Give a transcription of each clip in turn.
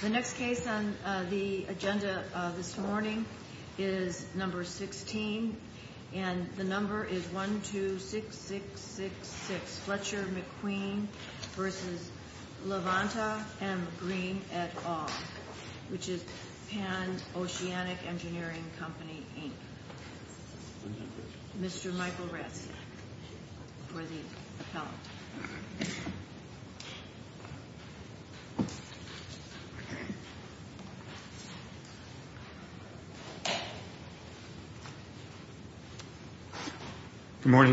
The next case on the agenda this morning is number 16, and the number is 126666, Fletcher McQueen v. Levante M. Green, et al., which is Pan Oceanic Engineering Company, Inc. Mr. Michael Rastak for the appellant. In which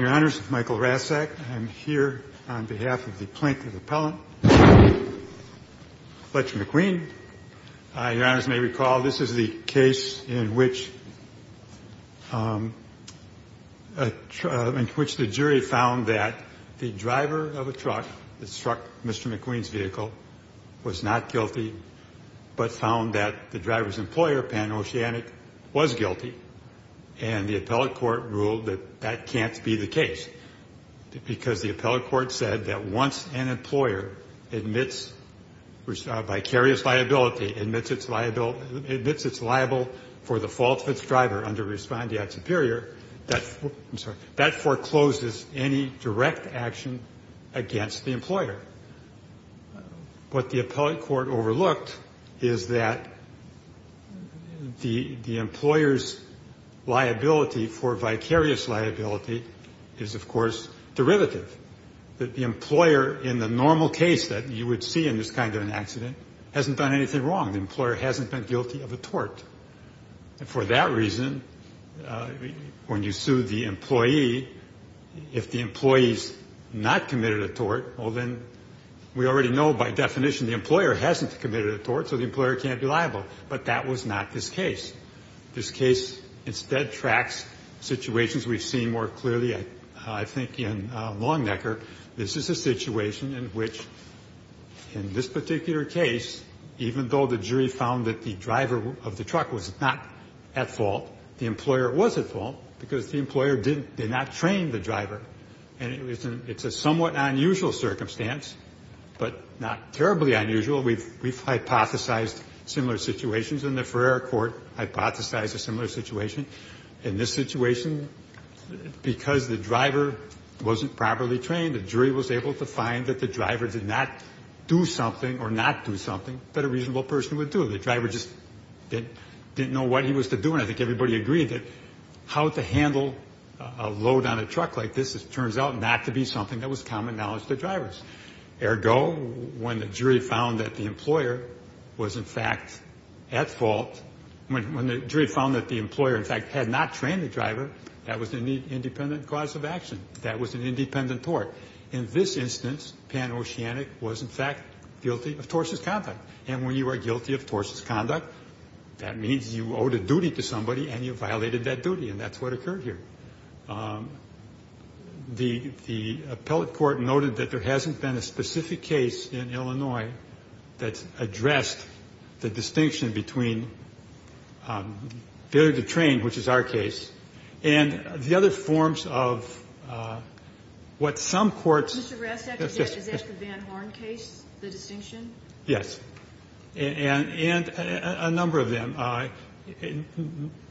the jury found that the driver of a truck that struck Mr. McQueen's vehicle was not guilty, but found that the driver's employer, Pan Oceanic, was guilty. And the appellate court ruled that that can't be the case. Because the appellate court said that once an employer admits vicarious liability, admits it's liable for the fault of its driver under respondeat superior, that forecloses any direct action against the employer. What the appellate court overlooked is that the employer's liability for vicarious liability is, of course, derivative. The employer, in the normal case that you would see in this kind of an accident, hasn't done anything wrong. The employer hasn't been guilty of a tort. And for that reason, when you sue the employee, if the employee's not committed a tort, well, then we already know by definition the employer hasn't committed a tort, so the employer can't be liable. But that was not this case. This case instead tracks situations we've seen more clearly, I think, in Longnecker. This is a situation in which, in this particular case, even though the jury found that the driver of the truck was not at fault, the employer was at fault because the employer did not train the driver. And it's a somewhat unusual circumstance, but not terribly unusual. We've hypothesized similar situations, and the Ferrer court hypothesized a similar situation. In this situation, because the driver wasn't properly trained, the jury was able to find that the driver did not do something or not do something that a reasonable person would do. The driver just didn't know what he was to do, and I think everybody agreed that how to handle a load on a truck like this turns out not to be something that was common knowledge to drivers. Ergo, when the jury found that the employer was, in fact, at fault, when the jury found that the employer, in fact, had not trained the driver, that was an independent cause of action. That was an independent tort. In this instance, Pan Oceanic was, in fact, guilty of tortious conduct. And when you are guilty of tortious conduct, that means you owed a duty to somebody and you violated that duty, and that's what occurred here. The appellate court noted that there hasn't been a specific case in Illinois that's addressed the distinction between failure to train, which is our case, and the other forms of what some courts. Mr. Rastak, is that the Van Horn case, the distinction? Yes. And a number of them.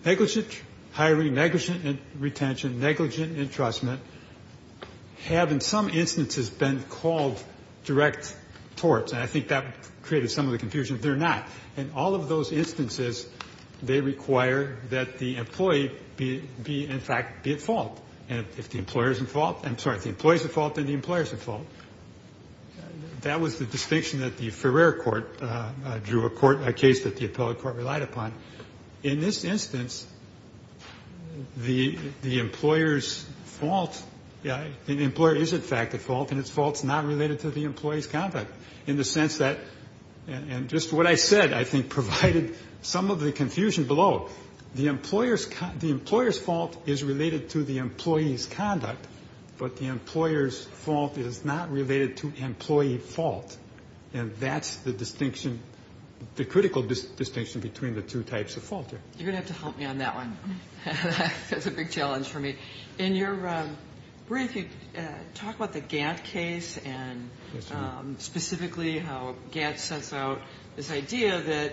Negligent hiring, negligent retention, negligent entrustment have, in some instances, been called direct torts, and I think that created some of the confusion. They're not. In all of those instances, they require that the employee be, in fact, be at fault. And if the employer is at fault, I'm sorry, if the employee is at fault, then the employer is at fault. That was the distinction that the Ferrer court drew, a court, a case that the appellate court relied upon. In this instance, the employer's fault, the employer is, in fact, at fault, and its fault is not related to the employee's conduct, in the sense that, and just what I said, I think, provided some of the confusion below. The employer's fault is related to the employee's conduct, but the employer's fault is not related to employee fault, and that's the distinction, the critical distinction between the two types of fault here. You're going to have to help me on that one. That's a big challenge for me. In your brief, you talk about the Gantt case and specifically how Gantt sets out this idea that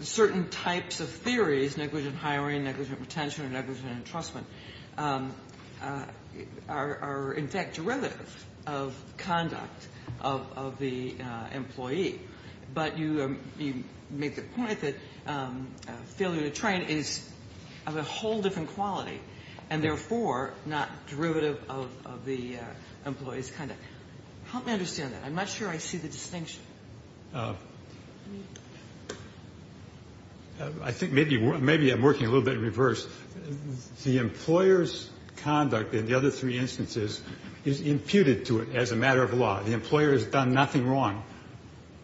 certain types of theories, negligent hiring, negligent retention, and negligent entrustment, are, in fact, derivative of conduct of the employee. But you make the point that failure to train is of a whole different quality and therefore not derivative of the employee's conduct. Help me understand that. I'm not sure I see the distinction. I think maybe I'm working a little bit in reverse. The employer's conduct in the other three instances is imputed to it as a matter of law. The employer has done nothing wrong.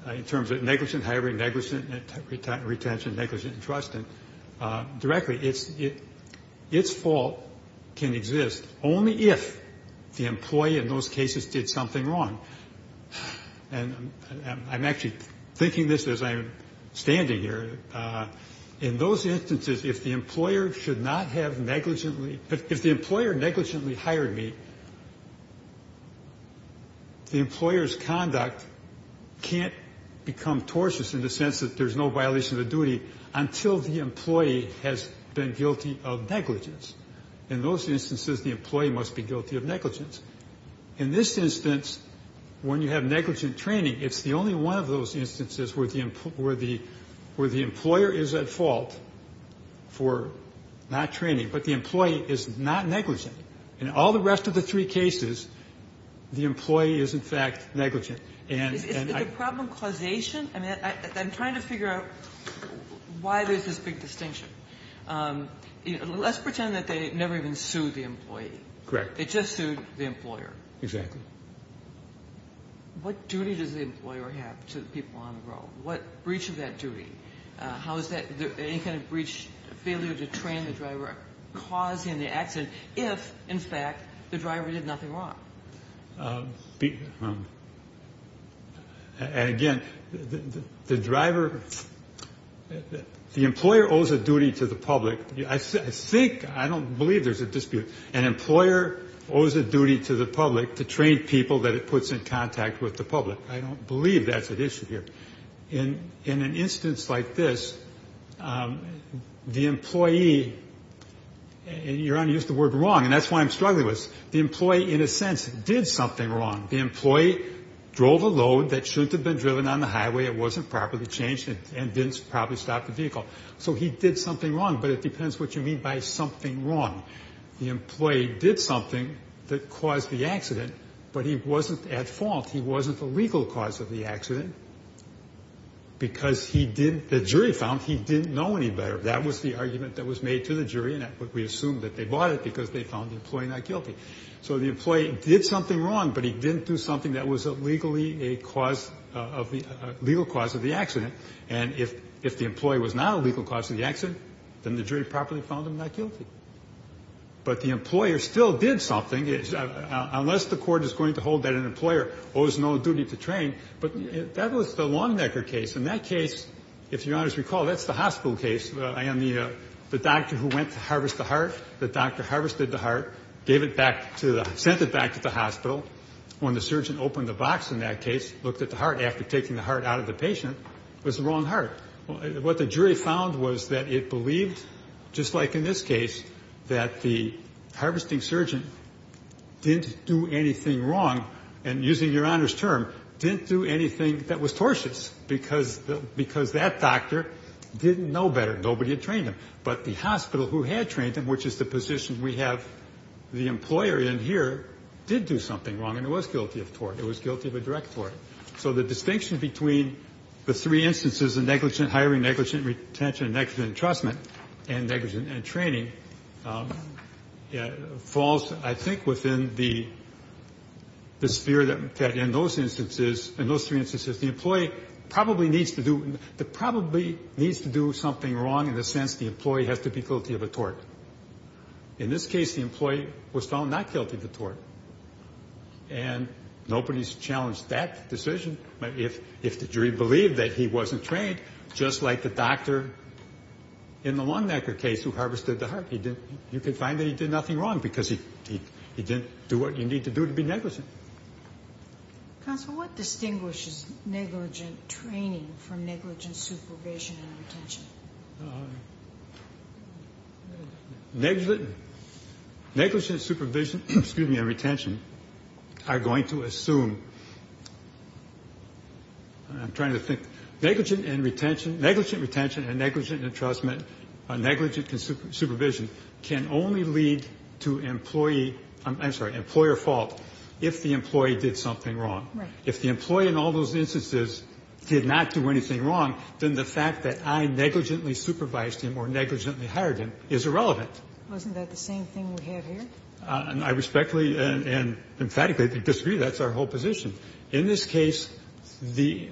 In terms of negligent hiring, negligent retention, negligent entrustment, directly, its fault can exist only if the employee in those cases did something wrong. And I'm actually thinking this as I'm standing here. In those instances, if the employer negligently hired me, the employer's conduct can't become tortious in the sense that there's no violation of duty until the employee has been guilty of negligence. In those instances, the employee must be guilty of negligence. In this instance, when you have negligent training, it's the only one of those instances where the employer is at fault for not training. But the employee is not negligent. In all the rest of the three cases, the employee is, in fact, negligent. And I can't figure out why there's this big distinction. Let's pretend that they never even sued the employee. Correct. It just sued the employer. Exactly. What duty does the employer have to the people on the road? What breach of that duty? How is that any kind of breach, failure to train the driver, causing the accident if, in fact, the driver did nothing wrong? Again, the driver, the employer owes a duty to the public. I think, I don't believe there's a dispute. An employer owes a duty to the public to train people that it puts in contact with the public. I don't believe that's an issue here. In an instance like this, the employee, and you're going to use the word wrong, and that's why I'm struggling with this. The employee, in a sense, did something wrong. The employee drove a load that shouldn't have been driven on the highway. It wasn't properly changed and didn't properly stop the vehicle. So he did something wrong, but it depends what you mean by something wrong. The employee did something that caused the accident, but he wasn't at fault. He wasn't the legal cause of the accident because he didn't, the jury found he didn't know any better. That was the argument that was made to the jury, and we assume that they bought it because they found the employee not guilty. So the employee did something wrong, but he didn't do something that was legally a cause, a legal cause of the accident. And if the employee was not a legal cause of the accident, then the jury properly found him not guilty. But the employer still did something. Unless the court is going to hold that an employer owes no duty to train, but that was the Longnecker case. In that case, if Your Honors recall, that's the hospital case. The doctor who went to harvest the heart, the doctor harvested the heart, gave it back to the, sent it back to the hospital. When the surgeon opened the box in that case, looked at the heart. After taking the heart out of the patient, it was the wrong heart. What the jury found was that it believed, just like in this case, that the harvesting surgeon didn't do anything wrong, and using Your Honors' term, didn't do anything that was tortious because that doctor didn't know better. Nobody had trained him. But the hospital who had trained him, which is the position we have the employer in here, did do something wrong, and it was guilty of tort. It was guilty of a direct tort. So the distinction between the three instances, the negligent hiring, negligent retention, negligent entrustment, and negligent training, falls, I think, within the sphere that in those instances, in those three instances, the employee probably needs to do something wrong in the sense the employee has to be guilty of a tort. In this case, the employee was found not guilty of a tort. And nobody's challenged that decision if the jury believed that he wasn't trained, just like the doctor in the Lone Necker case who harvested the heart. You could find that he did nothing wrong because he didn't do what you need to do to be negligent. Counsel, what distinguishes negligent training from negligent supervision and retention? Negligent supervision and retention are going to assume, I'm trying to think, negligent retention and negligent entrustment, negligent supervision, can only lead to employee, I'm sorry, employer fault if the employee did something wrong. Right. If the employee in all those instances did not do anything wrong, then the fact that I negligently supervised him or negligently hired him is irrelevant. Wasn't that the same thing we have here? I respectfully and emphatically disagree. That's our whole position. In this case, the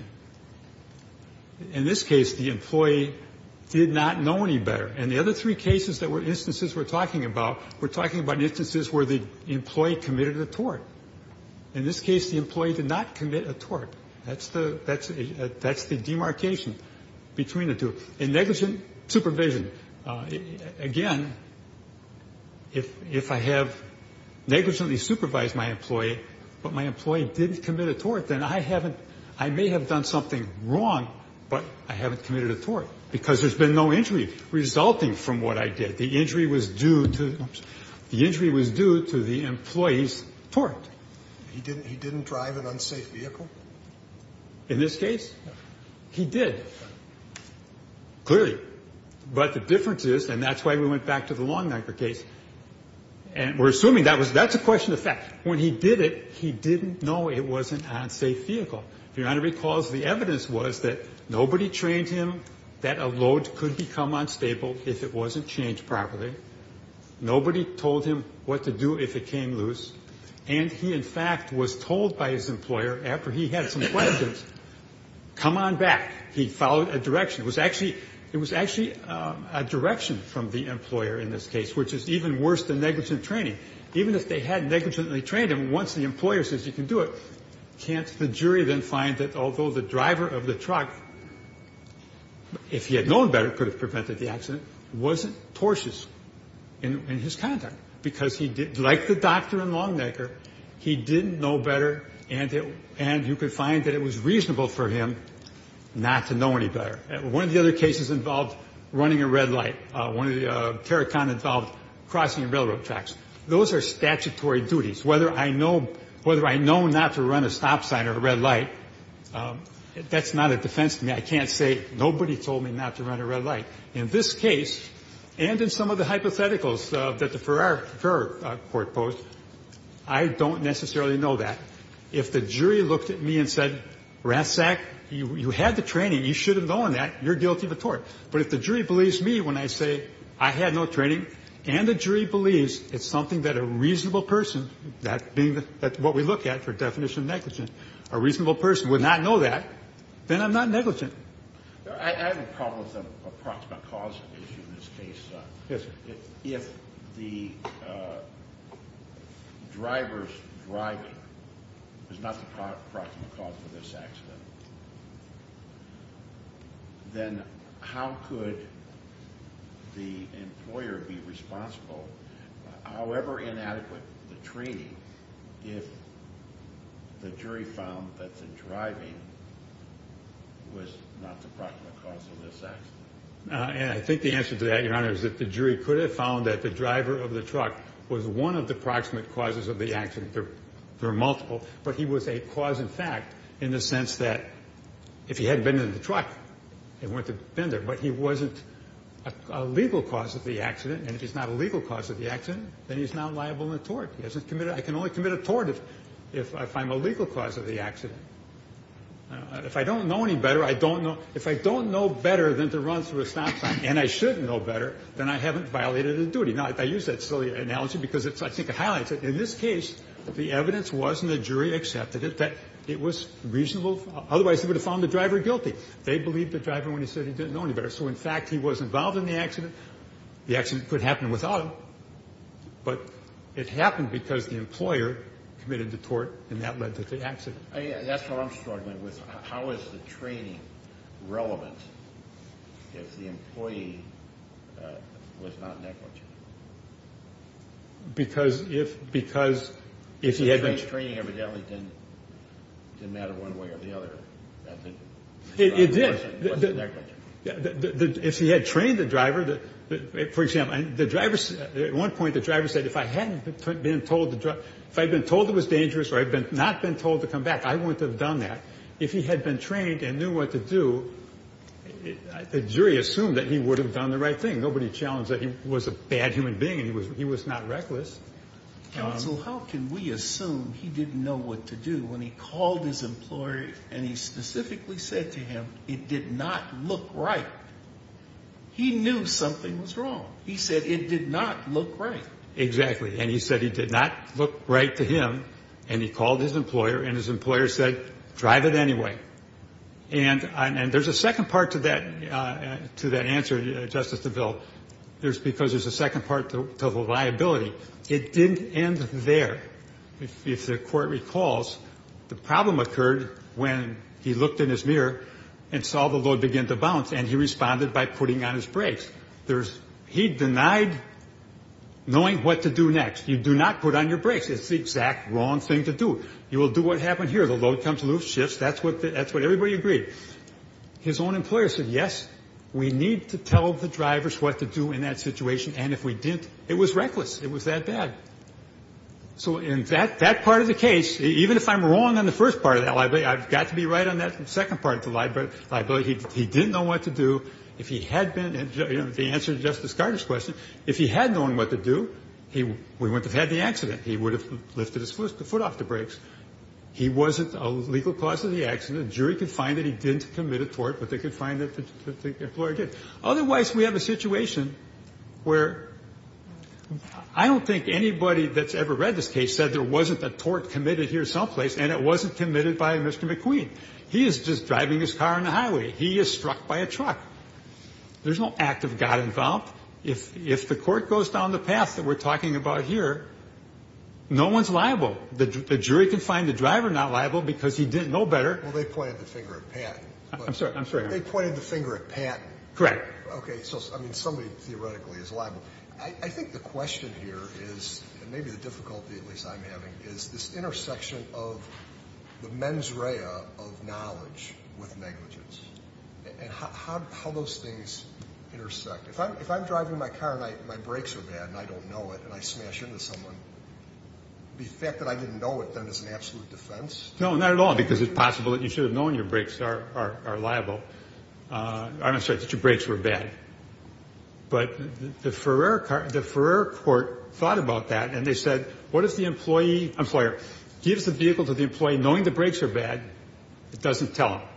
employee did not know any better. And the other three cases that were instances we're talking about, we're talking about instances where the employee committed a tort. In this case, the employee did not commit a tort. That's the demarcation between the two. In negligent supervision, again, if I have negligently supervised my employee, but my employee didn't commit a tort, then I may have done something wrong, but I haven't committed a tort because there's been no injury. Resulting from what I did, the injury was due to the employee's tort. He didn't drive an unsafe vehicle? In this case, he did. Clearly. But the difference is, and that's why we went back to the lawnmower case, and we're assuming that's a question of fact. When he did it, he didn't know it was an unsafe vehicle. If Your Honor recalls, the evidence was that nobody trained him that a load could become unstable if it wasn't changed properly. Nobody told him what to do if it came loose. And he, in fact, was told by his employer, after he had some questions, come on back. He followed a direction. It was actually a direction from the employer in this case, which is even worse than negligent training. Even if they had negligently trained him, once the employer says you can do it, can't the jury then find that although the driver of the truck, if he had known better, could have prevented the accident, wasn't tortious in his conduct? Because like the doctor in Longnecker, he didn't know better, and you could find that it was reasonable for him not to know any better. One of the other cases involved running a red light. One of the terracotta involved crossing railroad tracks. Those are statutory duties. Whether I know not to run a stop sign or a red light, that's not a defense to me. I can't say nobody told me not to run a red light. In this case, and in some of the hypotheticals that the Farrar Court posed, I don't necessarily know that. If the jury looked at me and said, Ratzak, you had the training. You should have known that. You're guilty of a tort. But if the jury believes me when I say I had no training, and the jury believes it's something that a reasonable person, that being what we look at for definition of negligent, a reasonable person would not know that, then I'm not negligent. I have a problem with the approximate cause of the issue in this case. Yes, sir. If the driver's driving was not the approximate cause of this accident, then how could the employer be responsible, however inadequate the training, if the jury found that the driving was not the approximate cause of this accident? And I think the answer to that, Your Honor, is that the jury could have found that the driver of the truck was one of the approximate causes of the accident. There are multiple. But he was a cause in fact in the sense that if he had been in the truck, he wouldn't have been there. But he wasn't a legal cause of the accident, and if he's not a legal cause of the accident, then he's not liable in a tort. He hasn't committed it. I can only commit a tort if I'm a legal cause of the accident. If I don't know any better, I don't know. If I don't know better than to run through a stop sign, and I should know better, then I haven't violated a duty. Now, I use that silly analogy because I think it highlights it. In this case, the evidence was, and the jury accepted it, that it was reasonable. Otherwise, they would have found the driver guilty. They believed the driver when he said he didn't know any better. So, in fact, he was involved in the accident. The accident could happen without him. But it happened because the employer committed the tort, and that led to the accident. That's what I'm struggling with. How is the training relevant if the employee was not negligent? Because if he had been… The training evidently didn't matter one way or the other. It did. It wasn't negligent. If he had trained the driver, for example, at one point the driver said, if I had been told it was dangerous or I had not been told to come back, I wouldn't have done that. If he had been trained and knew what to do, the jury assumed that he would have done the right thing. Nobody challenged that he was a bad human being and he was not reckless. Counsel, how can we assume he didn't know what to do when he called his employer and he specifically said to him it did not look right? He knew something was wrong. He said it did not look right. Exactly. And he said it did not look right to him, and he called his employer, and his employer said, drive it anyway. And there's a second part to that answer, Justice DeVille, because there's a second part to the liability. It didn't end there. If the court recalls, the problem occurred when he looked in his mirror and saw the load begin to bounce, and he responded by putting on his brakes. He denied knowing what to do next. You do not put on your brakes. It's the exact wrong thing to do. You will do what happened here. The load comes loose, shifts. That's what everybody agreed. His own employer said, yes, we need to tell the drivers what to do in that situation, and if we didn't, it was reckless. It was that bad. So in that part of the case, even if I'm wrong on the first part of that liability, I've got to be right on that second part of the liability. He didn't know what to do. If he had been, you know, the answer to Justice Gardner's question, if he had known what to do, we wouldn't have had the accident. He would have lifted his foot off the brakes. He wasn't a legal cause of the accident. The jury could find that he didn't commit a tort, but they could find that the employer did. Otherwise, we have a situation where I don't think anybody that's ever read this case said there wasn't a tort committed here someplace, and it wasn't committed by Mr. McQueen. He is just driving his car on the highway. He is struck by a truck. There's no act of God involved. If the court goes down the path that we're talking about here, no one's liable. The jury can find the driver not liable because he didn't know better. Well, they pointed the finger at Patton. I'm sorry, I'm sorry. They pointed the finger at Patton. Correct. Okay, so, I mean, somebody theoretically is liable. I think the question here is, and maybe the difficulty at least I'm having, is this intersection of the mens rea of knowledge with negligence and how those things intersect. If I'm driving my car and my brakes are bad and I don't know it and I smash into someone, the fact that I didn't know it then is an absolute defense? No, not at all, because it's possible that you should have known your brakes are liable. I'm not saying that your brakes were bad. But the Ferrer court thought about that and they said, what if the employer gives the vehicle to the employee knowing the brakes are bad, it doesn't tell him?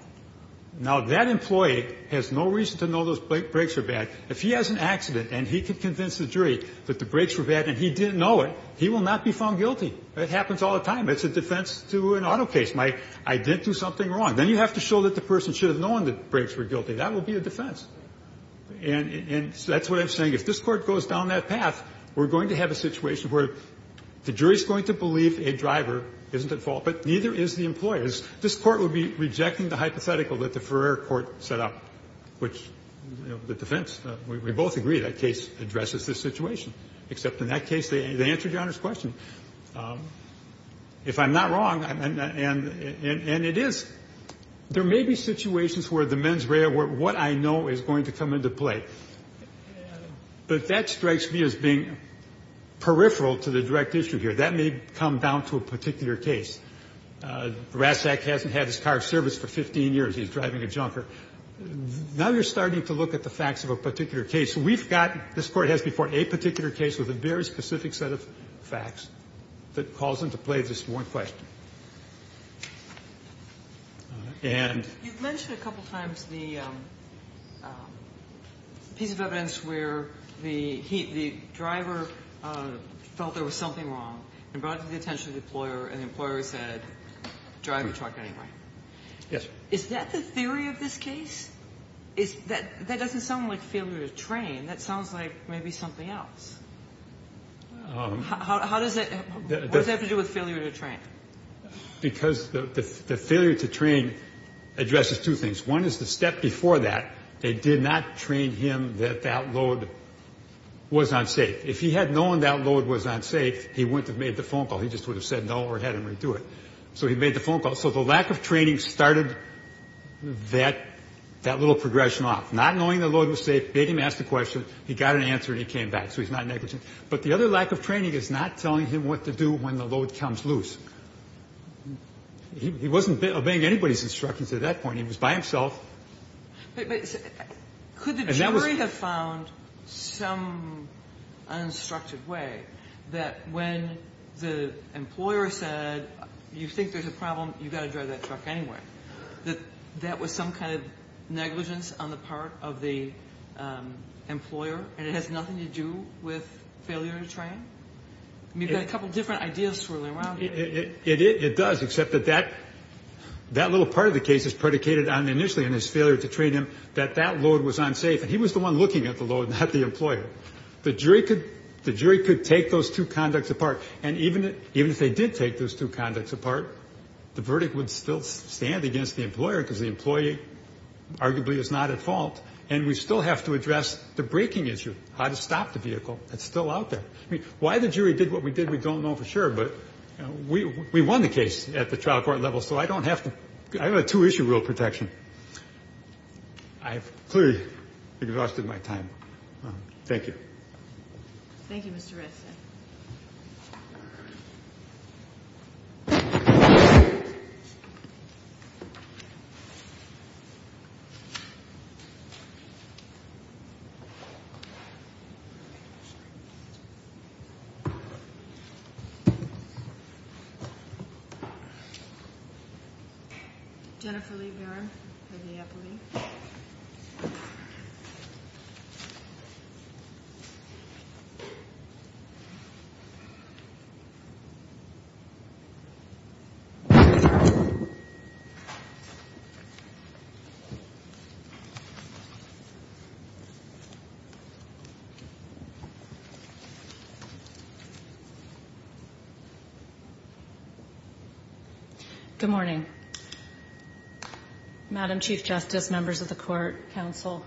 Now, that employee has no reason to know those brakes are bad. If he has an accident and he can convince the jury that the brakes were bad and he didn't know it, he will not be found guilty. It happens all the time. It's a defense to an auto case. I didn't do something wrong. Then you have to show that the person should have known the brakes were guilty. That would be a defense. And so that's what I'm saying. If this Court goes down that path, we're going to have a situation where the jury is going to believe a driver isn't at fault, but neither is the employer. This Court would be rejecting the hypothetical that the Ferrer court set up, which the defense, we both agree, that case addresses this situation, except in that case they answered Your Honor's question. If I'm not wrong, and it is, there may be situations where the mens rea, what I know, is going to come into play. But that strikes me as being peripheral to the direct issue here. That may come down to a particular case. Rasek hasn't had his car serviced for 15 years. He's driving a junker. Now you're starting to look at the facts of a particular case. We've got, this Court has before, a particular case with a very specific set of facts that calls into play this one question. And... You've mentioned a couple times the piece of evidence where the driver felt there was something wrong and brought it to the attention of the employer, and the employer said, drive your truck anyway. Yes. Is that the theory of this case? That doesn't sound like failure to train. That sounds like maybe something else. How does that, what does that have to do with failure to train? Because the failure to train addresses two things. One is the step before that, they did not train him that that load was unsafe. If he had known that load was unsafe, he wouldn't have made the phone call. He just would have said no or had him redo it. So he made the phone call. So the lack of training started that little progression off. Not knowing the load was safe, beg him to ask the question, he got an answer and he came back. So he's not negligent. But the other lack of training is not telling him what to do when the load comes loose. He wasn't obeying anybody's instructions at that point. He was by himself. But could the jury have found some uninstructed way that when the employer said, you think there's a problem, you've got to drive that truck anyway, that that was some kind of negligence on the part of the employer and it has nothing to do with failure to train? You've got a couple different ideas swirling around here. It does, except that that little part of the case is predicated on initially on his failure to train him, that that load was unsafe. And he was the one looking at the load, not the employer. The jury could take those two conducts apart. And even if they did take those two conducts apart, the verdict would still stand against the employer because the employee arguably is not at fault. And we still have to address the braking issue, how to stop the vehicle. It's still out there. I mean, why the jury did what we did, we don't know for sure. But we won the case at the trial court level, so I don't have to. I have a two-issue rule of protection. I've clearly exhausted my time. Thank you. Thank you, Mr. Redson. Jennifer Lee Barron for the appellee. Good morning, Madam Chief Justice, members of the court, counsel.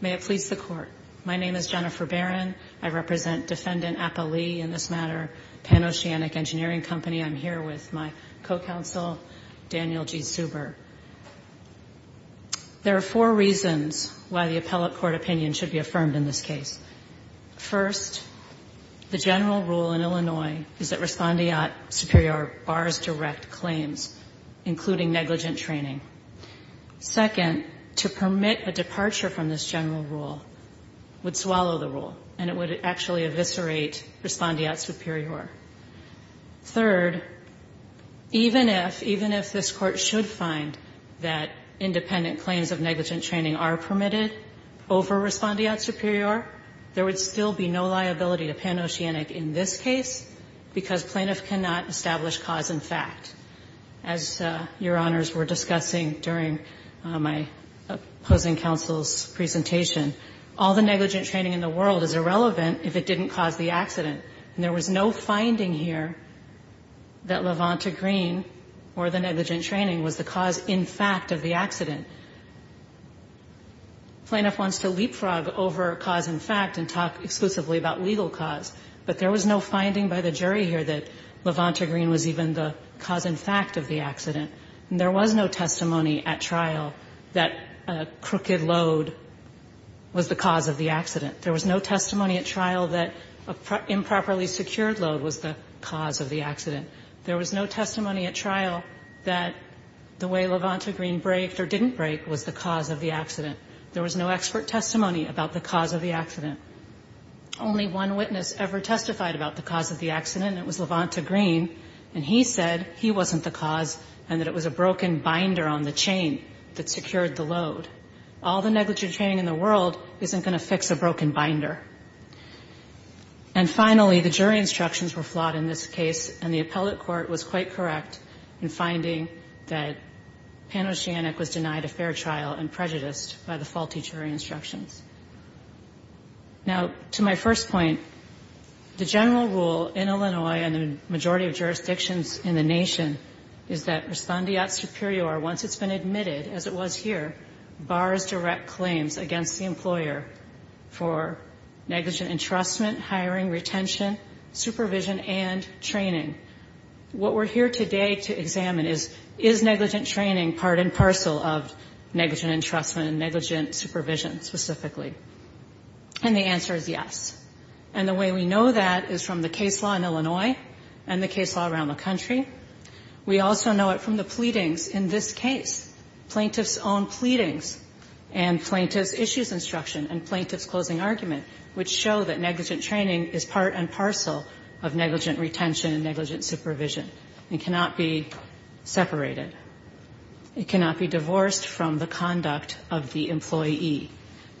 May it please the Court. My name is Jennifer Barron. I represent Defendant Appa Lee in this matter, Pan Oceanic Engineering Company. I'm here with my co-counsel, Daniel G. Suber. There are four reasons why the appellate court opinion should be affirmed in this case. First, the general rule in Illinois is that respondeat superior bars direct claims, including negligent training. Second, to permit a departure from this general rule would swallow the rule, and it would actually eviscerate respondeat superior. Third, even if, even if this Court should find that independent claims of negligent training are permitted over respondeat superior, there would still be no liability to Pan Oceanic in this case, because plaintiff cannot establish cause and fact. As Your Honors were discussing during my opposing counsel's presentation, all the negligent training in the world is irrelevant if it didn't cause the accident. And there was no finding here that Levanta Green or the negligent training was the cause in fact of the accident. Plaintiff wants to leapfrog over cause and fact and talk exclusively about legal cause, but there was no finding by the jury here that Levanta Green was even the cause and fact of the accident. There was no testimony at trial that crooked load was the cause of the accident. There was no testimony at trial that improperly secured load was the cause of the accident. There was no testimony at trial that the way Levanta Green broke or didn't break was the cause of the accident. There was no expert testimony about the cause of the accident. Only one witness ever testified about the cause of the accident, and it was Levanta Green, and he said he wasn't the cause and that it was a broken binder on the chain that secured the load. All the negligent training in the world isn't going to fix a broken binder. And finally, the jury instructions were flawed in this case, and the appellate court was quite correct in finding that Panos Janic was denied a fair trial and prejudiced by the faulty jury instructions. Now, to my first point, the general rule in Illinois and the majority of jurisdictions in the nation is that respondeat superior, once it's been admitted, as it was here, bars direct claims against the employer for negligent entrustment, hiring, retention, supervision, and training. What we're here today to examine is, is negligent training part and parcel of negligent entrustment and negligent supervision specifically? And the answer is yes. And the way we know that is from the case law in Illinois and the case law around the country. We also know it from the pleadings in this case, plaintiff's own pleadings and plaintiff's issues instruction and plaintiff's closing argument, which show that negligent training is part and parcel of negligent retention and negligent supervision. It cannot be separated. It cannot be divorced from the conduct of the employee.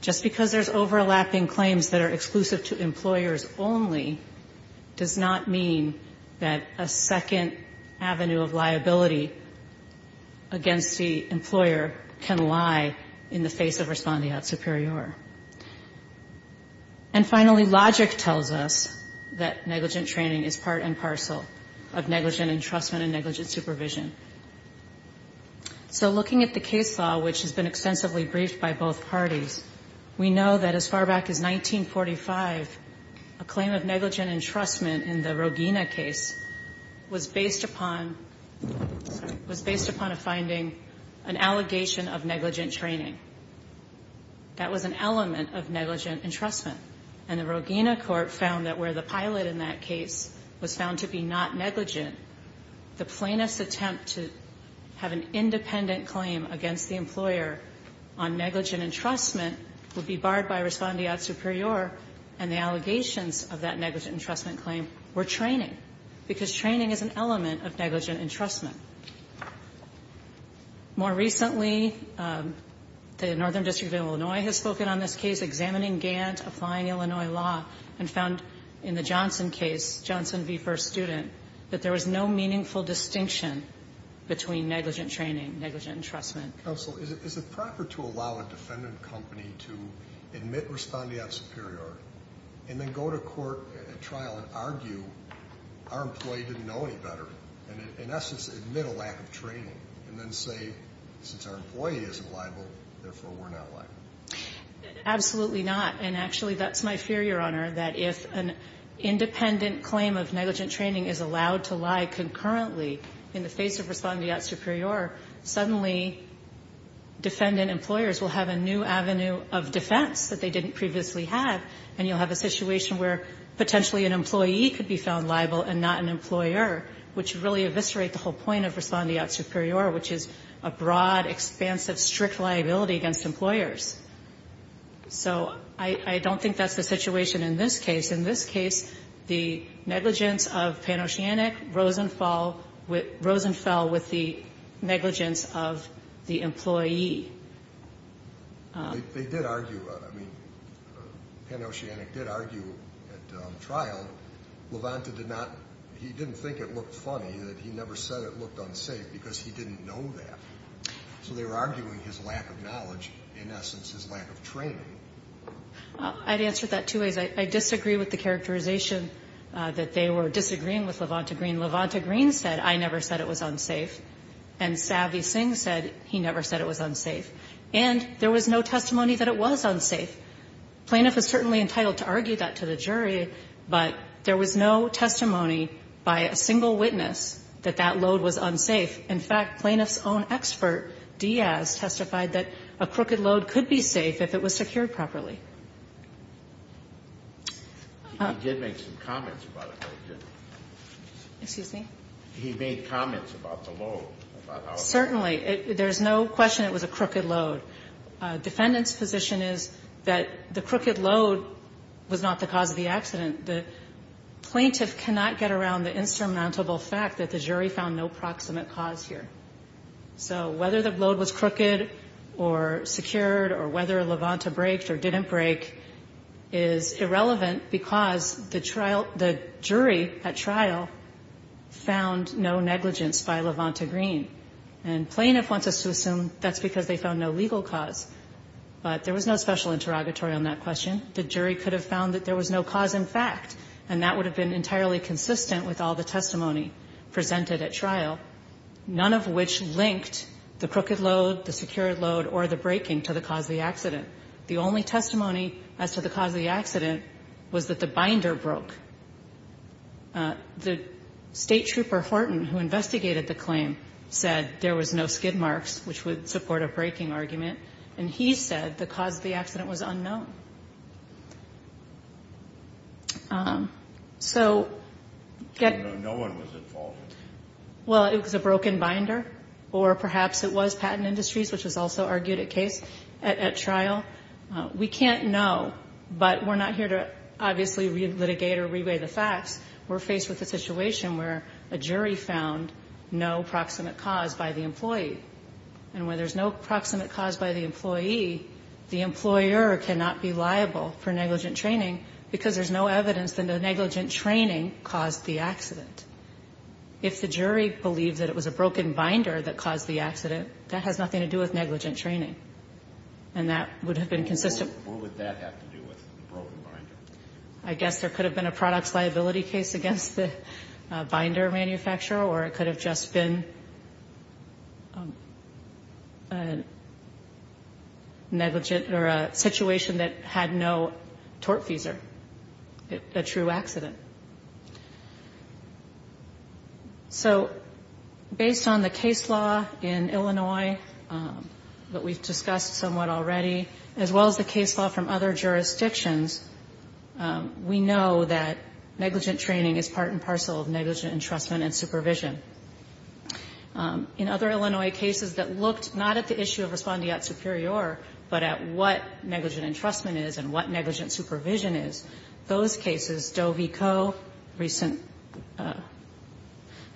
Just because there's overlapping claims that are exclusive to employers only does not mean that a second avenue of liability against the employer can lie in the face of respondeat superior. And finally, logic tells us that negligent training is part and parcel of negligent entrustment and negligent supervision. So looking at the case law, which has been extensively briefed by both parties, we know that as far back as 1945, a claim of negligent entrustment in the Rogina case was based upon, was based upon a finding, an allegation of negligent training. That was an element of negligent entrustment. And the Rogina court found that where the pilot in that case was found to be not negligent, the plaintiff's attempt to have an independent claim against the employer on negligent entrustment would be barred by respondeat superior, and the allegations of that negligent entrustment claim were training, because training is an element of negligent entrustment. More recently, the Northern District of Illinois has spoken on this case, examining Gant, applying Illinois law, and found in the Johnson case, Johnson v. First Student, that there was no meaningful distinction between negligent training, negligent entrustment. Sotomayor, is it proper to allow a defendant company to admit respondeat superior and then go to court at trial and argue, our employee didn't know any better, and in essence admit a lack of training, and then say, since our employee isn't liable, therefore we're not liable? Absolutely not. And actually, that's my fear, Your Honor, that if an independent claim of negligent training is allowed to lie concurrently in the face of respondeat superior, suddenly defendant employers will have a new avenue of defense that they didn't previously have, and you'll have a situation where potentially an employee could be found liable and not an employer, which would really eviscerate the whole point of respondeat superior, which is a broad, expansive, strict liability against employers. So I don't think that's the situation in this case. In this case, the negligence of Panosianik rose and fell with the negligence of the employee. They did argue, I mean, Panosianik did argue at trial, Levanta did not, he didn't think it looked funny that he never said it looked unsafe because he didn't know that. So they were arguing his lack of knowledge, in essence his lack of training. I'd answer that two ways. I disagree with the characterization that they were disagreeing with Levanta Green. Levanta Green said, I never said it was unsafe, and Savi Singh said he never said it was unsafe. And there was no testimony that it was unsafe. Plaintiff is certainly entitled to argue that to the jury, but there was no testimony by a single witness that that load was unsafe. In fact, plaintiff's own expert, Diaz, testified that a crooked load could be safe if it was secured properly. He did make some comments about it. Excuse me? He made comments about the load. Certainly. There's no question it was a crooked load. Defendant's position is that the crooked load was not the cause of the accident. The plaintiff cannot get around the insurmountable fact that the jury found no proximate cause here. So whether the load was crooked or secured or whether Levanta breaked or didn't break is irrelevant because the jury at trial found no negligence by Levanta Green. And plaintiff wants us to assume that's because they found no legal cause. But there was no special interrogatory on that question. The jury could have found that there was no cause in fact, and that would have been entirely consistent with all the testimony presented at trial. None of which linked the crooked load, the secured load, or the breaking to the cause of the accident. The only testimony as to the cause of the accident was that the binder broke. The State Trooper Horton, who investigated the claim, said there was no skid marks, which would support a breaking argument. And he said the cause of the accident was unknown. So get no one was involved. Well, it was a broken binder, or perhaps it was patent industries, which was also argued at trial. We can't know, but we're not here to obviously re-litigate or re-weigh the facts. We're faced with a situation where a jury found no proximate cause by the employee. And where there's no proximate cause by the employee, the employer cannot be liable for negligent training because there's no evidence that the negligent training caused the accident. If the jury believed that it was a broken binder that caused the accident, that has nothing to do with negligent training. And that would have been consistent. What would that have to do with the broken binder? I guess there could have been a products liability case against the binder manufacturer, or it could have just been a negligent or a situation that had no tortfeasor, a true accident. So based on the case law in Illinois that we've discussed somewhat already, as well as the case law from other jurisdictions, we know that negligent training is part and parcel of negligent entrustment and supervision. In other Illinois cases that looked not at the issue of respondeat superior, but at what negligent entrustment is and what negligent supervision is, those cases, Doe v. Coe, recent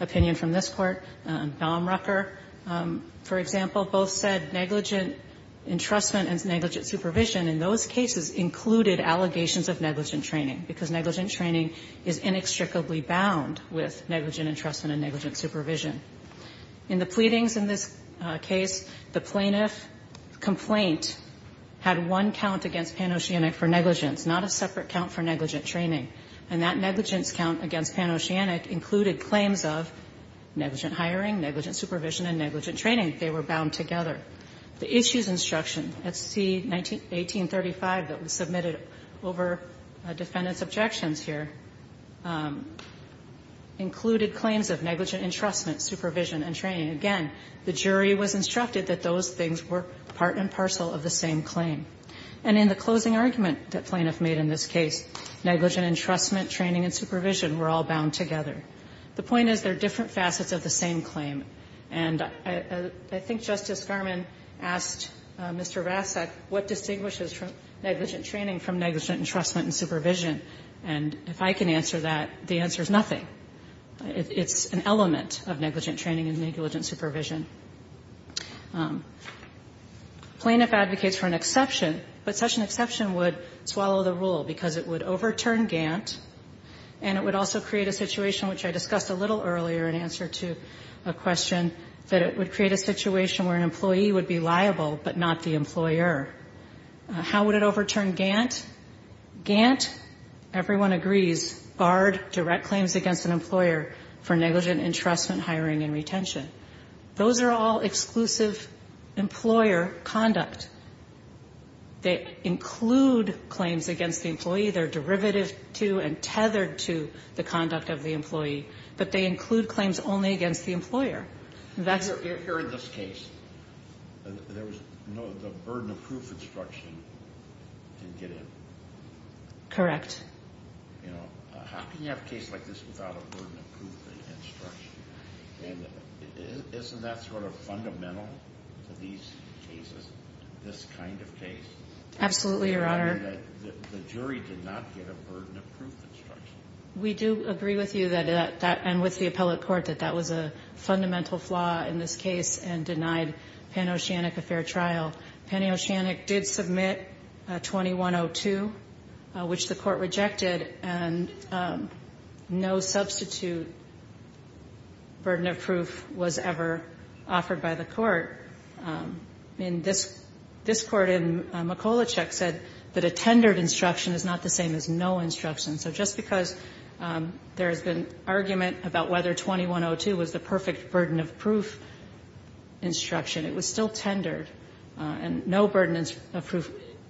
opinion from this Court, and Baumrucker, for example, both said negligent entrustment and negligent supervision in those cases included allegations of negligent training because negligent training is inextricably bound with negligent entrustment and negligent supervision. In the pleadings in this case, the plaintiff complaint had one count against Pan-Oceanic for negligence, not a separate count for negligent training. And that negligence count against Pan-Oceanic included claims of negligent hiring, negligent supervision, and negligent training. They were bound together. The issues instruction at C-1835 that was submitted over defendant's objections here included claims of negligent entrustment, supervision, and training. Again, the jury was instructed that those things were part and parcel of the same claim. And in the closing argument that plaintiff made in this case, negligent entrustment, training, and supervision were all bound together. The point is there are different facets of the same claim. And I think Justice Garmon asked Mr. Vasak, what distinguishes negligent training from negligent entrustment and supervision? And if I can answer that, the answer is nothing. It's an element of negligent training and negligent supervision. Plaintiff advocates for an exception, but such an exception would swallow the rule because it would overturn Gant, and it would also create a situation which I discussed a little earlier in answer to a question, that it would create a situation where an employee would be liable but not the employer. How would it overturn Gant? Gant, everyone agrees, barred direct claims against an employer for negligent entrustment, hiring, and retention. Those are all exclusive employer conduct. They include claims against the employee. They're derivative to and tethered to the conduct of the employee, but they include claims only against the employer. Here in this case, the burden of proof instruction didn't get in. Correct. How can you have a case like this without a burden of proof instruction? Isn't that sort of fundamental to these cases, this kind of case? Absolutely, Your Honor. The jury did not get a burden of proof instruction. We do agree with you and with the appellate court that that was a fundamental flaw in this case and denied Panoceanic a fair trial. Panoceanic did submit 2102, which the court rejected, and no substitute burden of proof was ever offered by the court. And this court in Mikolacek said that a tendered instruction is not the same as no instruction. So just because there has been argument about whether 2102 was the perfect And no burden of proof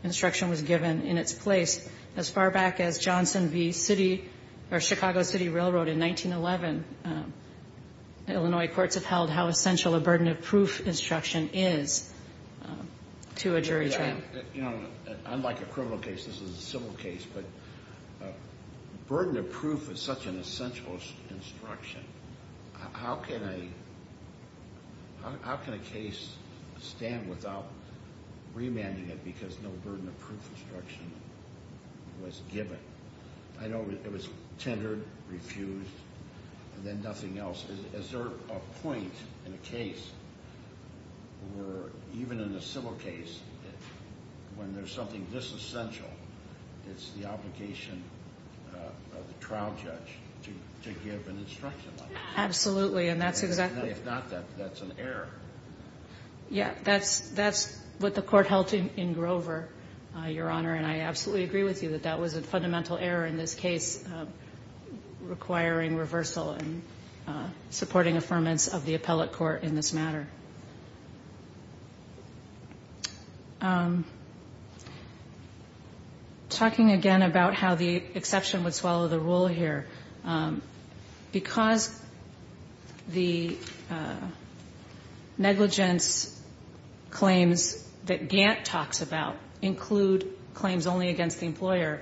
instruction was given in its place. As far back as Johnson v. City or Chicago City Railroad in 1911, Illinois courts have held how essential a burden of proof instruction is to a jury trial. Unlike a criminal case, this is a civil case, but burden of proof is such an essential instruction. How can a case stand without remanding it because no burden of proof instruction was given? I know it was tendered, refused, and then nothing else. Is there a point in a case where even in a civil case, when there's something this essential, it's the obligation of the trial judge to give an instruction like that? Absolutely. If not, that's an error. Yeah, that's what the court held in Grover, Your Honor, and I absolutely agree with you that that was a fundamental error in this case requiring reversal and supporting affirmance of the appellate court in this matter. Talking again about how the exception would swallow the rule here, because the negligence claims that Gant talks about include claims only against the employer,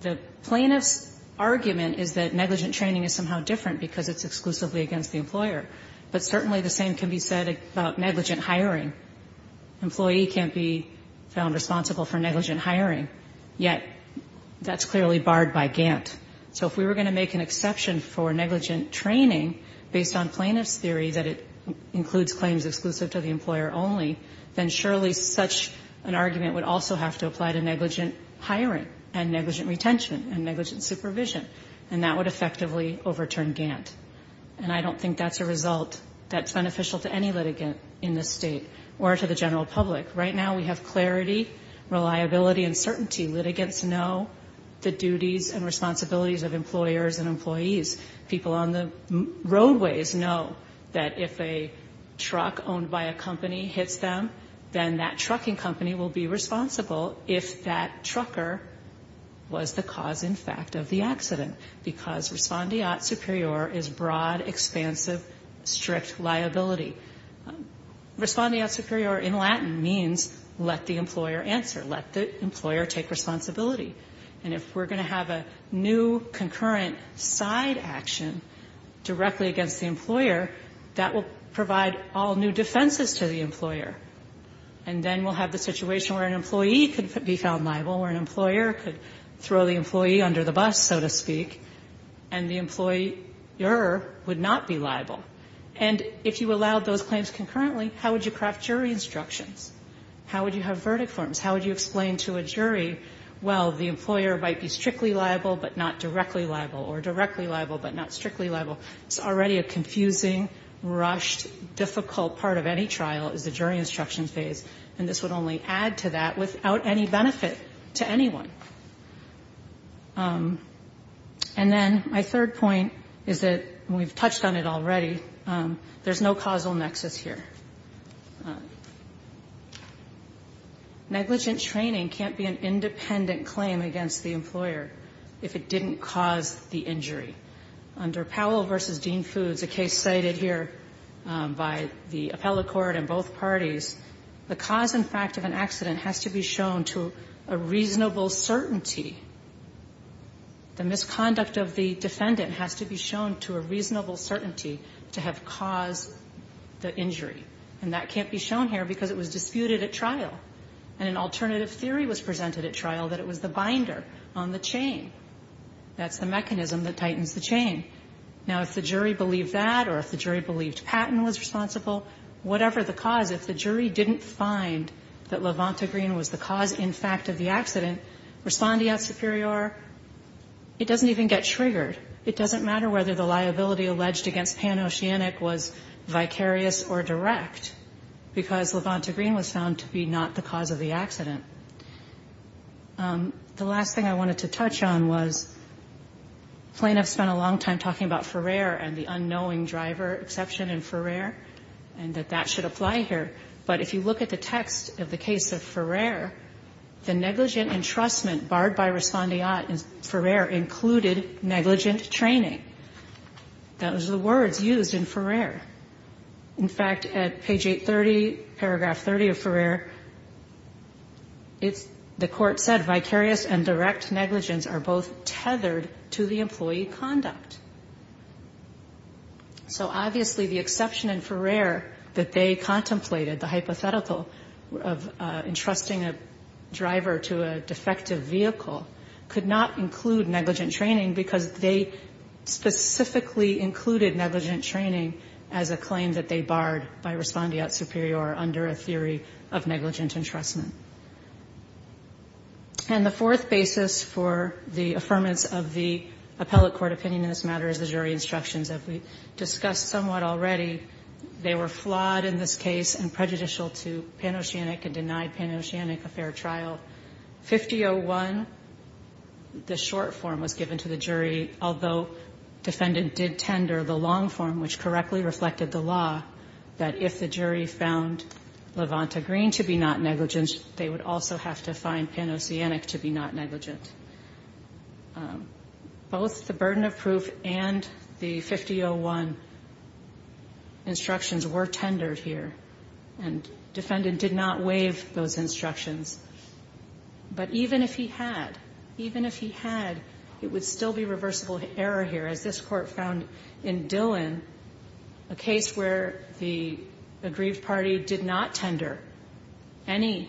the plaintiff's argument is that negligent training is somehow different because it's exclusively against the employer. But certainly the same can be said about negligent hiring. Employee can't be found responsible for negligent hiring, yet that's clearly barred by Gant. So if we were going to make an exception for negligent training based on plaintiff's theory that it includes claims exclusive to the employer only, then surely such an argument would also have to apply to negligent hiring and negligent retention and negligent supervision, and that would effectively overturn Gant. And I don't think that's a result that's beneficial to any litigant in the state or to the general public. Right now we have clarity, reliability, and certainty. Litigants know the duties and responsibilities of employers and employees. People on the roadways know that if a truck owned by a company hits them, then that trucking company will be responsible if that trucker was the cause, in fact, of the accident, because respondeat superior is broad, expansive, strict liability. Respondeat superior in Latin means let the employer answer, let the employer take responsibility. And if we're going to have a new concurrent side action directly against the employer, that will provide all new defenses to the employer. And then we'll have the situation where an employee could be found liable, or an employer could throw the employee under the bus, so to speak, and the employer would not be liable. And if you allowed those claims concurrently, how would you craft jury instructions? How would you have verdict forms? How would you explain to a jury, well, the employer might be strictly liable but not directly liable, or directly liable but not strictly liable? It's already a confusing, rushed, difficult part of any trial is the jury instruction phase, and this would only add to that without any benefit to anyone. And then my third point is that, and we've touched on it already, there's no causal nexus here. Negligent training can't be an independent claim against the employer if it didn't cause the injury. Under Powell v. Dean Foods, a case cited here by the appellate court and both parties, the cause and fact of an accident has to be shown to a reasonable certainty. The misconduct of the defendant has to be shown to a reasonable certainty to have caused the injury. And that can't be shown here because it was disputed at trial, and an alternative theory was presented at trial that it was the binder on the chain. That's the mechanism that tightens the chain. Now, if the jury believed that or if the jury believed Patton was responsible, whatever the cause, if the jury didn't find that LaVonta Green was the cause in fact of the accident, respondeat superior, it doesn't even get triggered. It doesn't matter whether the liability alleged against Pan Oceanic was vicarious or direct because LaVonta Green was found to be not the cause of the accident. The last thing I wanted to touch on was plaintiffs spent a long time talking about Ferrer and the unknowing driver exception in Ferrer, and that that should apply here. But if you look at the text of the case of Ferrer, the negligent entrustment barred by respondeat Ferrer included negligent training. Those are the words used in Ferrer. In fact, at page 830, paragraph 30 of Ferrer, the court said vicarious and direct negligence are both tethered to the employee conduct. So obviously the exception in Ferrer that they contemplated, the hypothetical of entrusting a driver to a defective vehicle, could not include negligent training because they specifically included negligent training as a claim that they barred by respondeat superior under a theory of negligent entrustment. And the fourth basis for the affirmance of the appellate court opinion in this matter is the jury instructions that we discussed somewhat already. They were flawed in this case and prejudicial to Pan Oceanic and denied Pan Oceanic a fair trial. 5001, the short form was given to the jury, although defendant did tender the long form, which correctly reflected the law that if the jury found LaVonta Green to be not negligent, they would also have to find Pan Oceanic to be not negligent. Both the burden of proof and the 5001 instructions were tendered here, and defendant did not waive those instructions. But even if he had, even if he had, it would still be reversible error here, as this court found in Dillon, a case where the aggrieved party did not tender any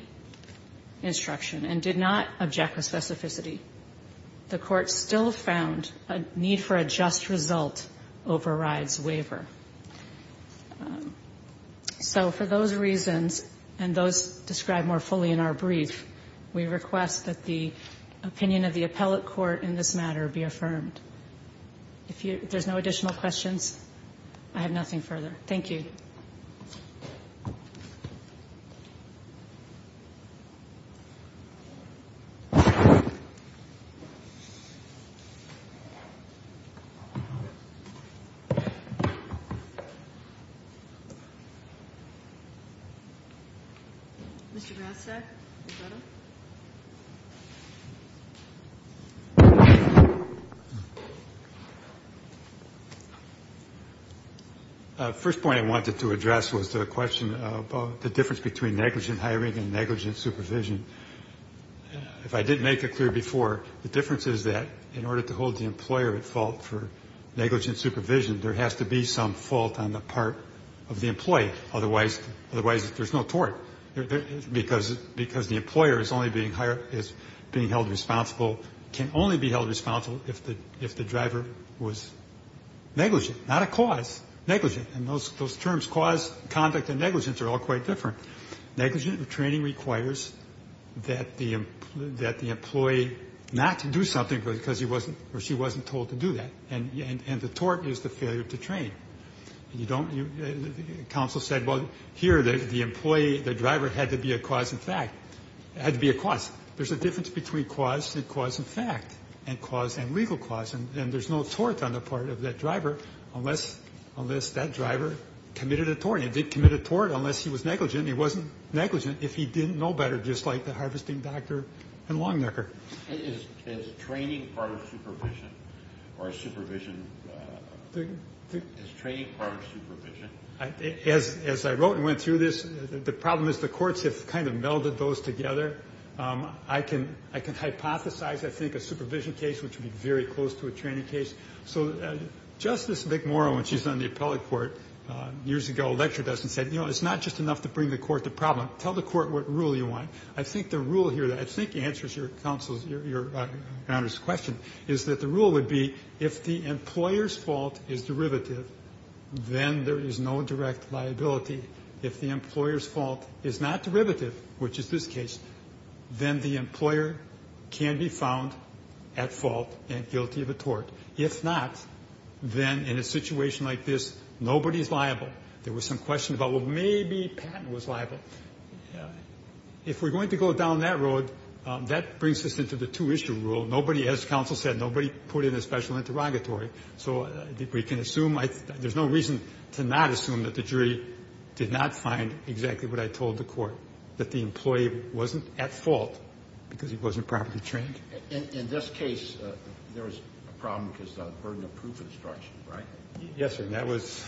instruction and did not object with specificity. The court still found a need for a just result overrides waiver. So for those reasons and those described more fully in our brief, we request that the opinion of the appellate court in this matter be affirmed. If there's no additional questions, I have nothing further. Thank you. First point I wanted to address was the question about the difference between negligent hiring and negligent supervision. If I didn't make it clear before, the difference is that in order to hold the employer at fault for negligent supervision, there has to be some fault on the part of the employee, otherwise there's no tort, because the employer is only being held responsible, can only be held responsible if the driver was negligent, not a cause, negligent. And those terms, cause, conduct, and negligence are all quite different. Negligent training requires that the employee not to do something because he wasn't or she wasn't told to do that, and the tort is the failure to train. And you don't, counsel said, well, here, the employee, the driver had to be a cause in fact, had to be a cause. There's a difference between cause and cause in fact, and cause and legal cause, and there's no tort on the part of that driver unless that driver committed a tort. And he did commit a tort unless he was negligent. He wasn't negligent if he didn't know better, just like the harvesting doctor and long necker. Is training part of supervision or supervision, is training part of supervision? As I wrote and went through this, the problem is the courts have kind of melded those together. I can hypothesize, I think, a supervision case, which would be very close to a training case. So Justice McMorrow, when she was on the appellate court years ago, lectured us and said, you know, it's not just enough to bring the court to the problem. Tell the court what rule you want. I think the rule here that I think answers your counsel's, your honor's question, is that the rule would be if the employer's fault is derivative, then there is no direct liability. If the employer's fault is not derivative, which is this case, then the employer can be found at fault and guilty of a tort. If not, then in a situation like this, nobody's liable. There was some question about, well, maybe Patton was liable. If we're going to go down that road, that brings us into the two-issue rule. Nobody, as counsel said, nobody put in a special interrogatory. So we can assume, there's no reason to not assume that the jury did not find exactly what I told the court, that the employee wasn't at fault because he wasn't properly trained. In this case, there was a problem because of the burden of proof of instruction, right? Yes, sir. And that was,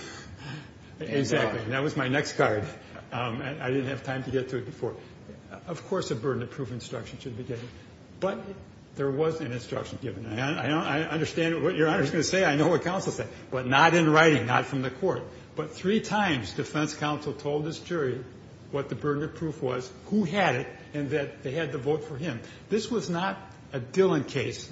exactly. And that was my next card. I didn't have time to get to it before. Of course, a burden of proof of instruction should be given. But there was an instruction given. I understand what your honor's going to say. I know what counsel said. But not in writing, not from the court. But three times defense counsel told this jury what the burden of proof was, who had it, and that they had to vote for him. This was not a Dillon case.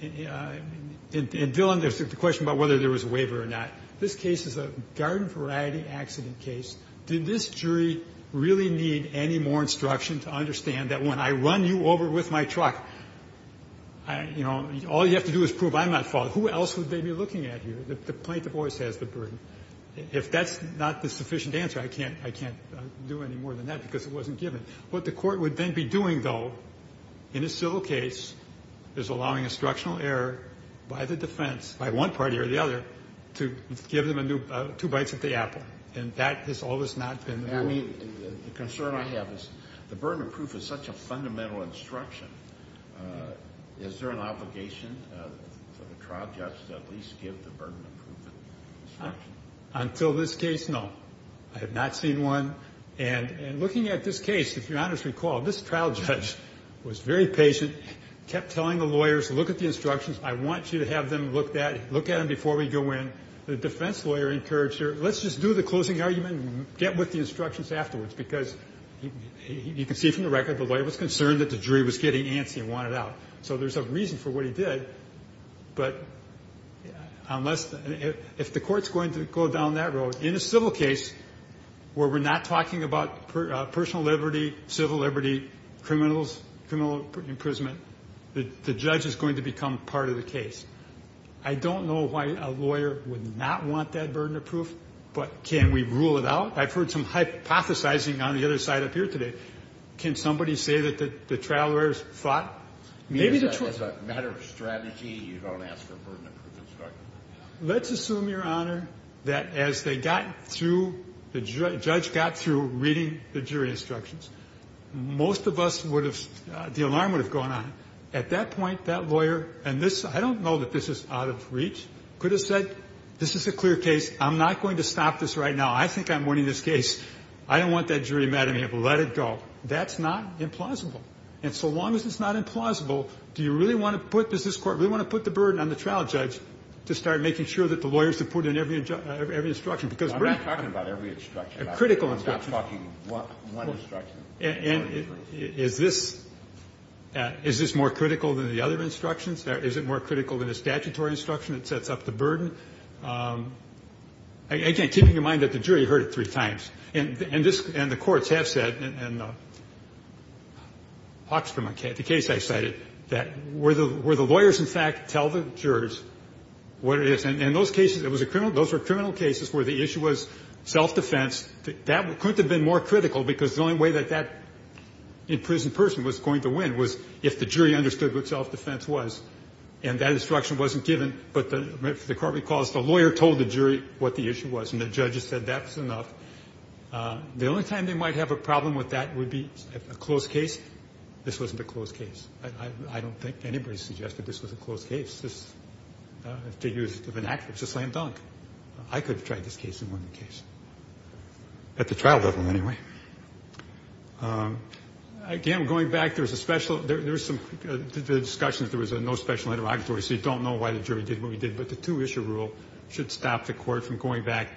In Dillon, there's the question about whether there was a waiver or not. This case is a garden variety accident case. Did this jury really need any more instruction to understand that when I run you over with my truck, you know, all you have to do is prove I'm not at fault? Who else would they be looking at here? The plaintiff always has the burden. If that's not the sufficient answer, I can't do any more than that because it wasn't given. What the court would then be doing, though, in a civil case, is allowing instructional error by the defense, by one party or the other, to give them two bites at the apple. And that has always not been the rule. The concern I have is the burden of proof is such a fundamental instruction. Is there an obligation for the trial judge to at least give the burden of proof instruction? Until this case, no. I have not seen one. And looking at this case, if you'll honestly recall, this trial judge was very patient, kept telling the lawyers, look at the instructions. I want you to have them look at them before we go in. The defense lawyer encouraged her, let's just do the closing argument and get with the instructions afterwards because you can see from the record the lawyer was concerned that the jury was getting antsy and wanted out. So there's a reason for what he did. But if the court's going to go down that road, in a civil case where we're not talking about personal liberty, civil liberty, criminal imprisonment, the judge is going to become part of the case. I don't know why a lawyer would not want that burden of proof, but can we rule it out? I've heard some hypothesizing on the other side up here today. Can somebody say that the trial lawyers fought? Maybe the truth. It's a matter of strategy. You don't ask for a burden of proof instruction. Let's assume, Your Honor, that as they got through, the judge got through reading the jury instructions. Most of us would have, the alarm would have gone on. At that point, that lawyer, and this, I don't know that this is out of reach, could have said, this is a clear case. I'm not going to stop this right now. I think I'm winning this case. I don't want that jury mad at me. Let it go. That's not implausible. And so long as it's not implausible, do you really want to put, does this Court really want to put the burden on the trial judge to start making sure that the lawyers have put in every instruction? Because we're not talking about every instruction. A critical instruction. I'm not talking one instruction. And is this more critical than the other instructions? Is it more critical than the statutory instruction that sets up the burden? Again, keeping in mind that the jury heard it three times, and the courts have said, and Hawks from the case I cited, that were the lawyers, in fact, tell the jurors what it is? And in those cases, those were criminal cases where the issue was self-defense. That couldn't have been more critical because the only way that that imprisoned person was going to win was if the jury understood what self-defense was. And that instruction wasn't given. But the Court recalls the lawyer told the jury what the issue was, and the judges said that was enough. The only time they might have a problem with that would be a closed case. This wasn't a closed case. I don't think anybody suggested this was a closed case. It was a slam dunk. I could have tried this case and won the case. At the trial level, anyway. Again, going back, there was a special, there were some discussions, there was no special interrogatory, so you don't know why the jury did what we did. But the two-issue rule should stop the Court from going back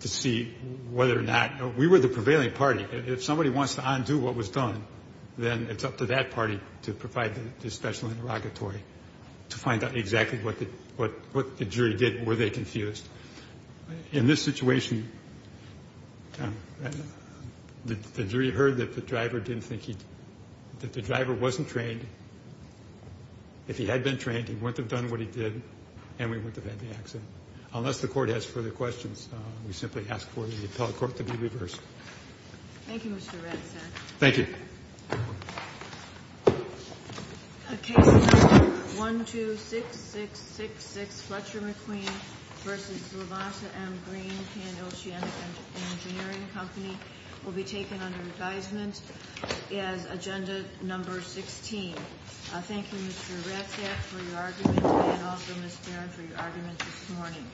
to see whether or not, we were the prevailing party. If somebody wants to undo what was done, then it's up to that party to provide the special interrogatory to find out exactly what the jury did, were they confused. In this situation, the jury heard that the driver didn't think he, that the driver wasn't trained. If he had been trained, he wouldn't have done what he did, and we wouldn't have had the accident. Unless the Court has further questions, we simply ask for the appellate court to be reversed. Thank you, Mr. Ratzak. Thank you. The case number 126666, Fletcher McQueen v. Zlata M. Green, Pan-Ocean Engineering Company, will be taken under advisement as agenda number 16. Thank you, Mr. Ratzak, for your arguments, and also Ms. Barron for your arguments this morning.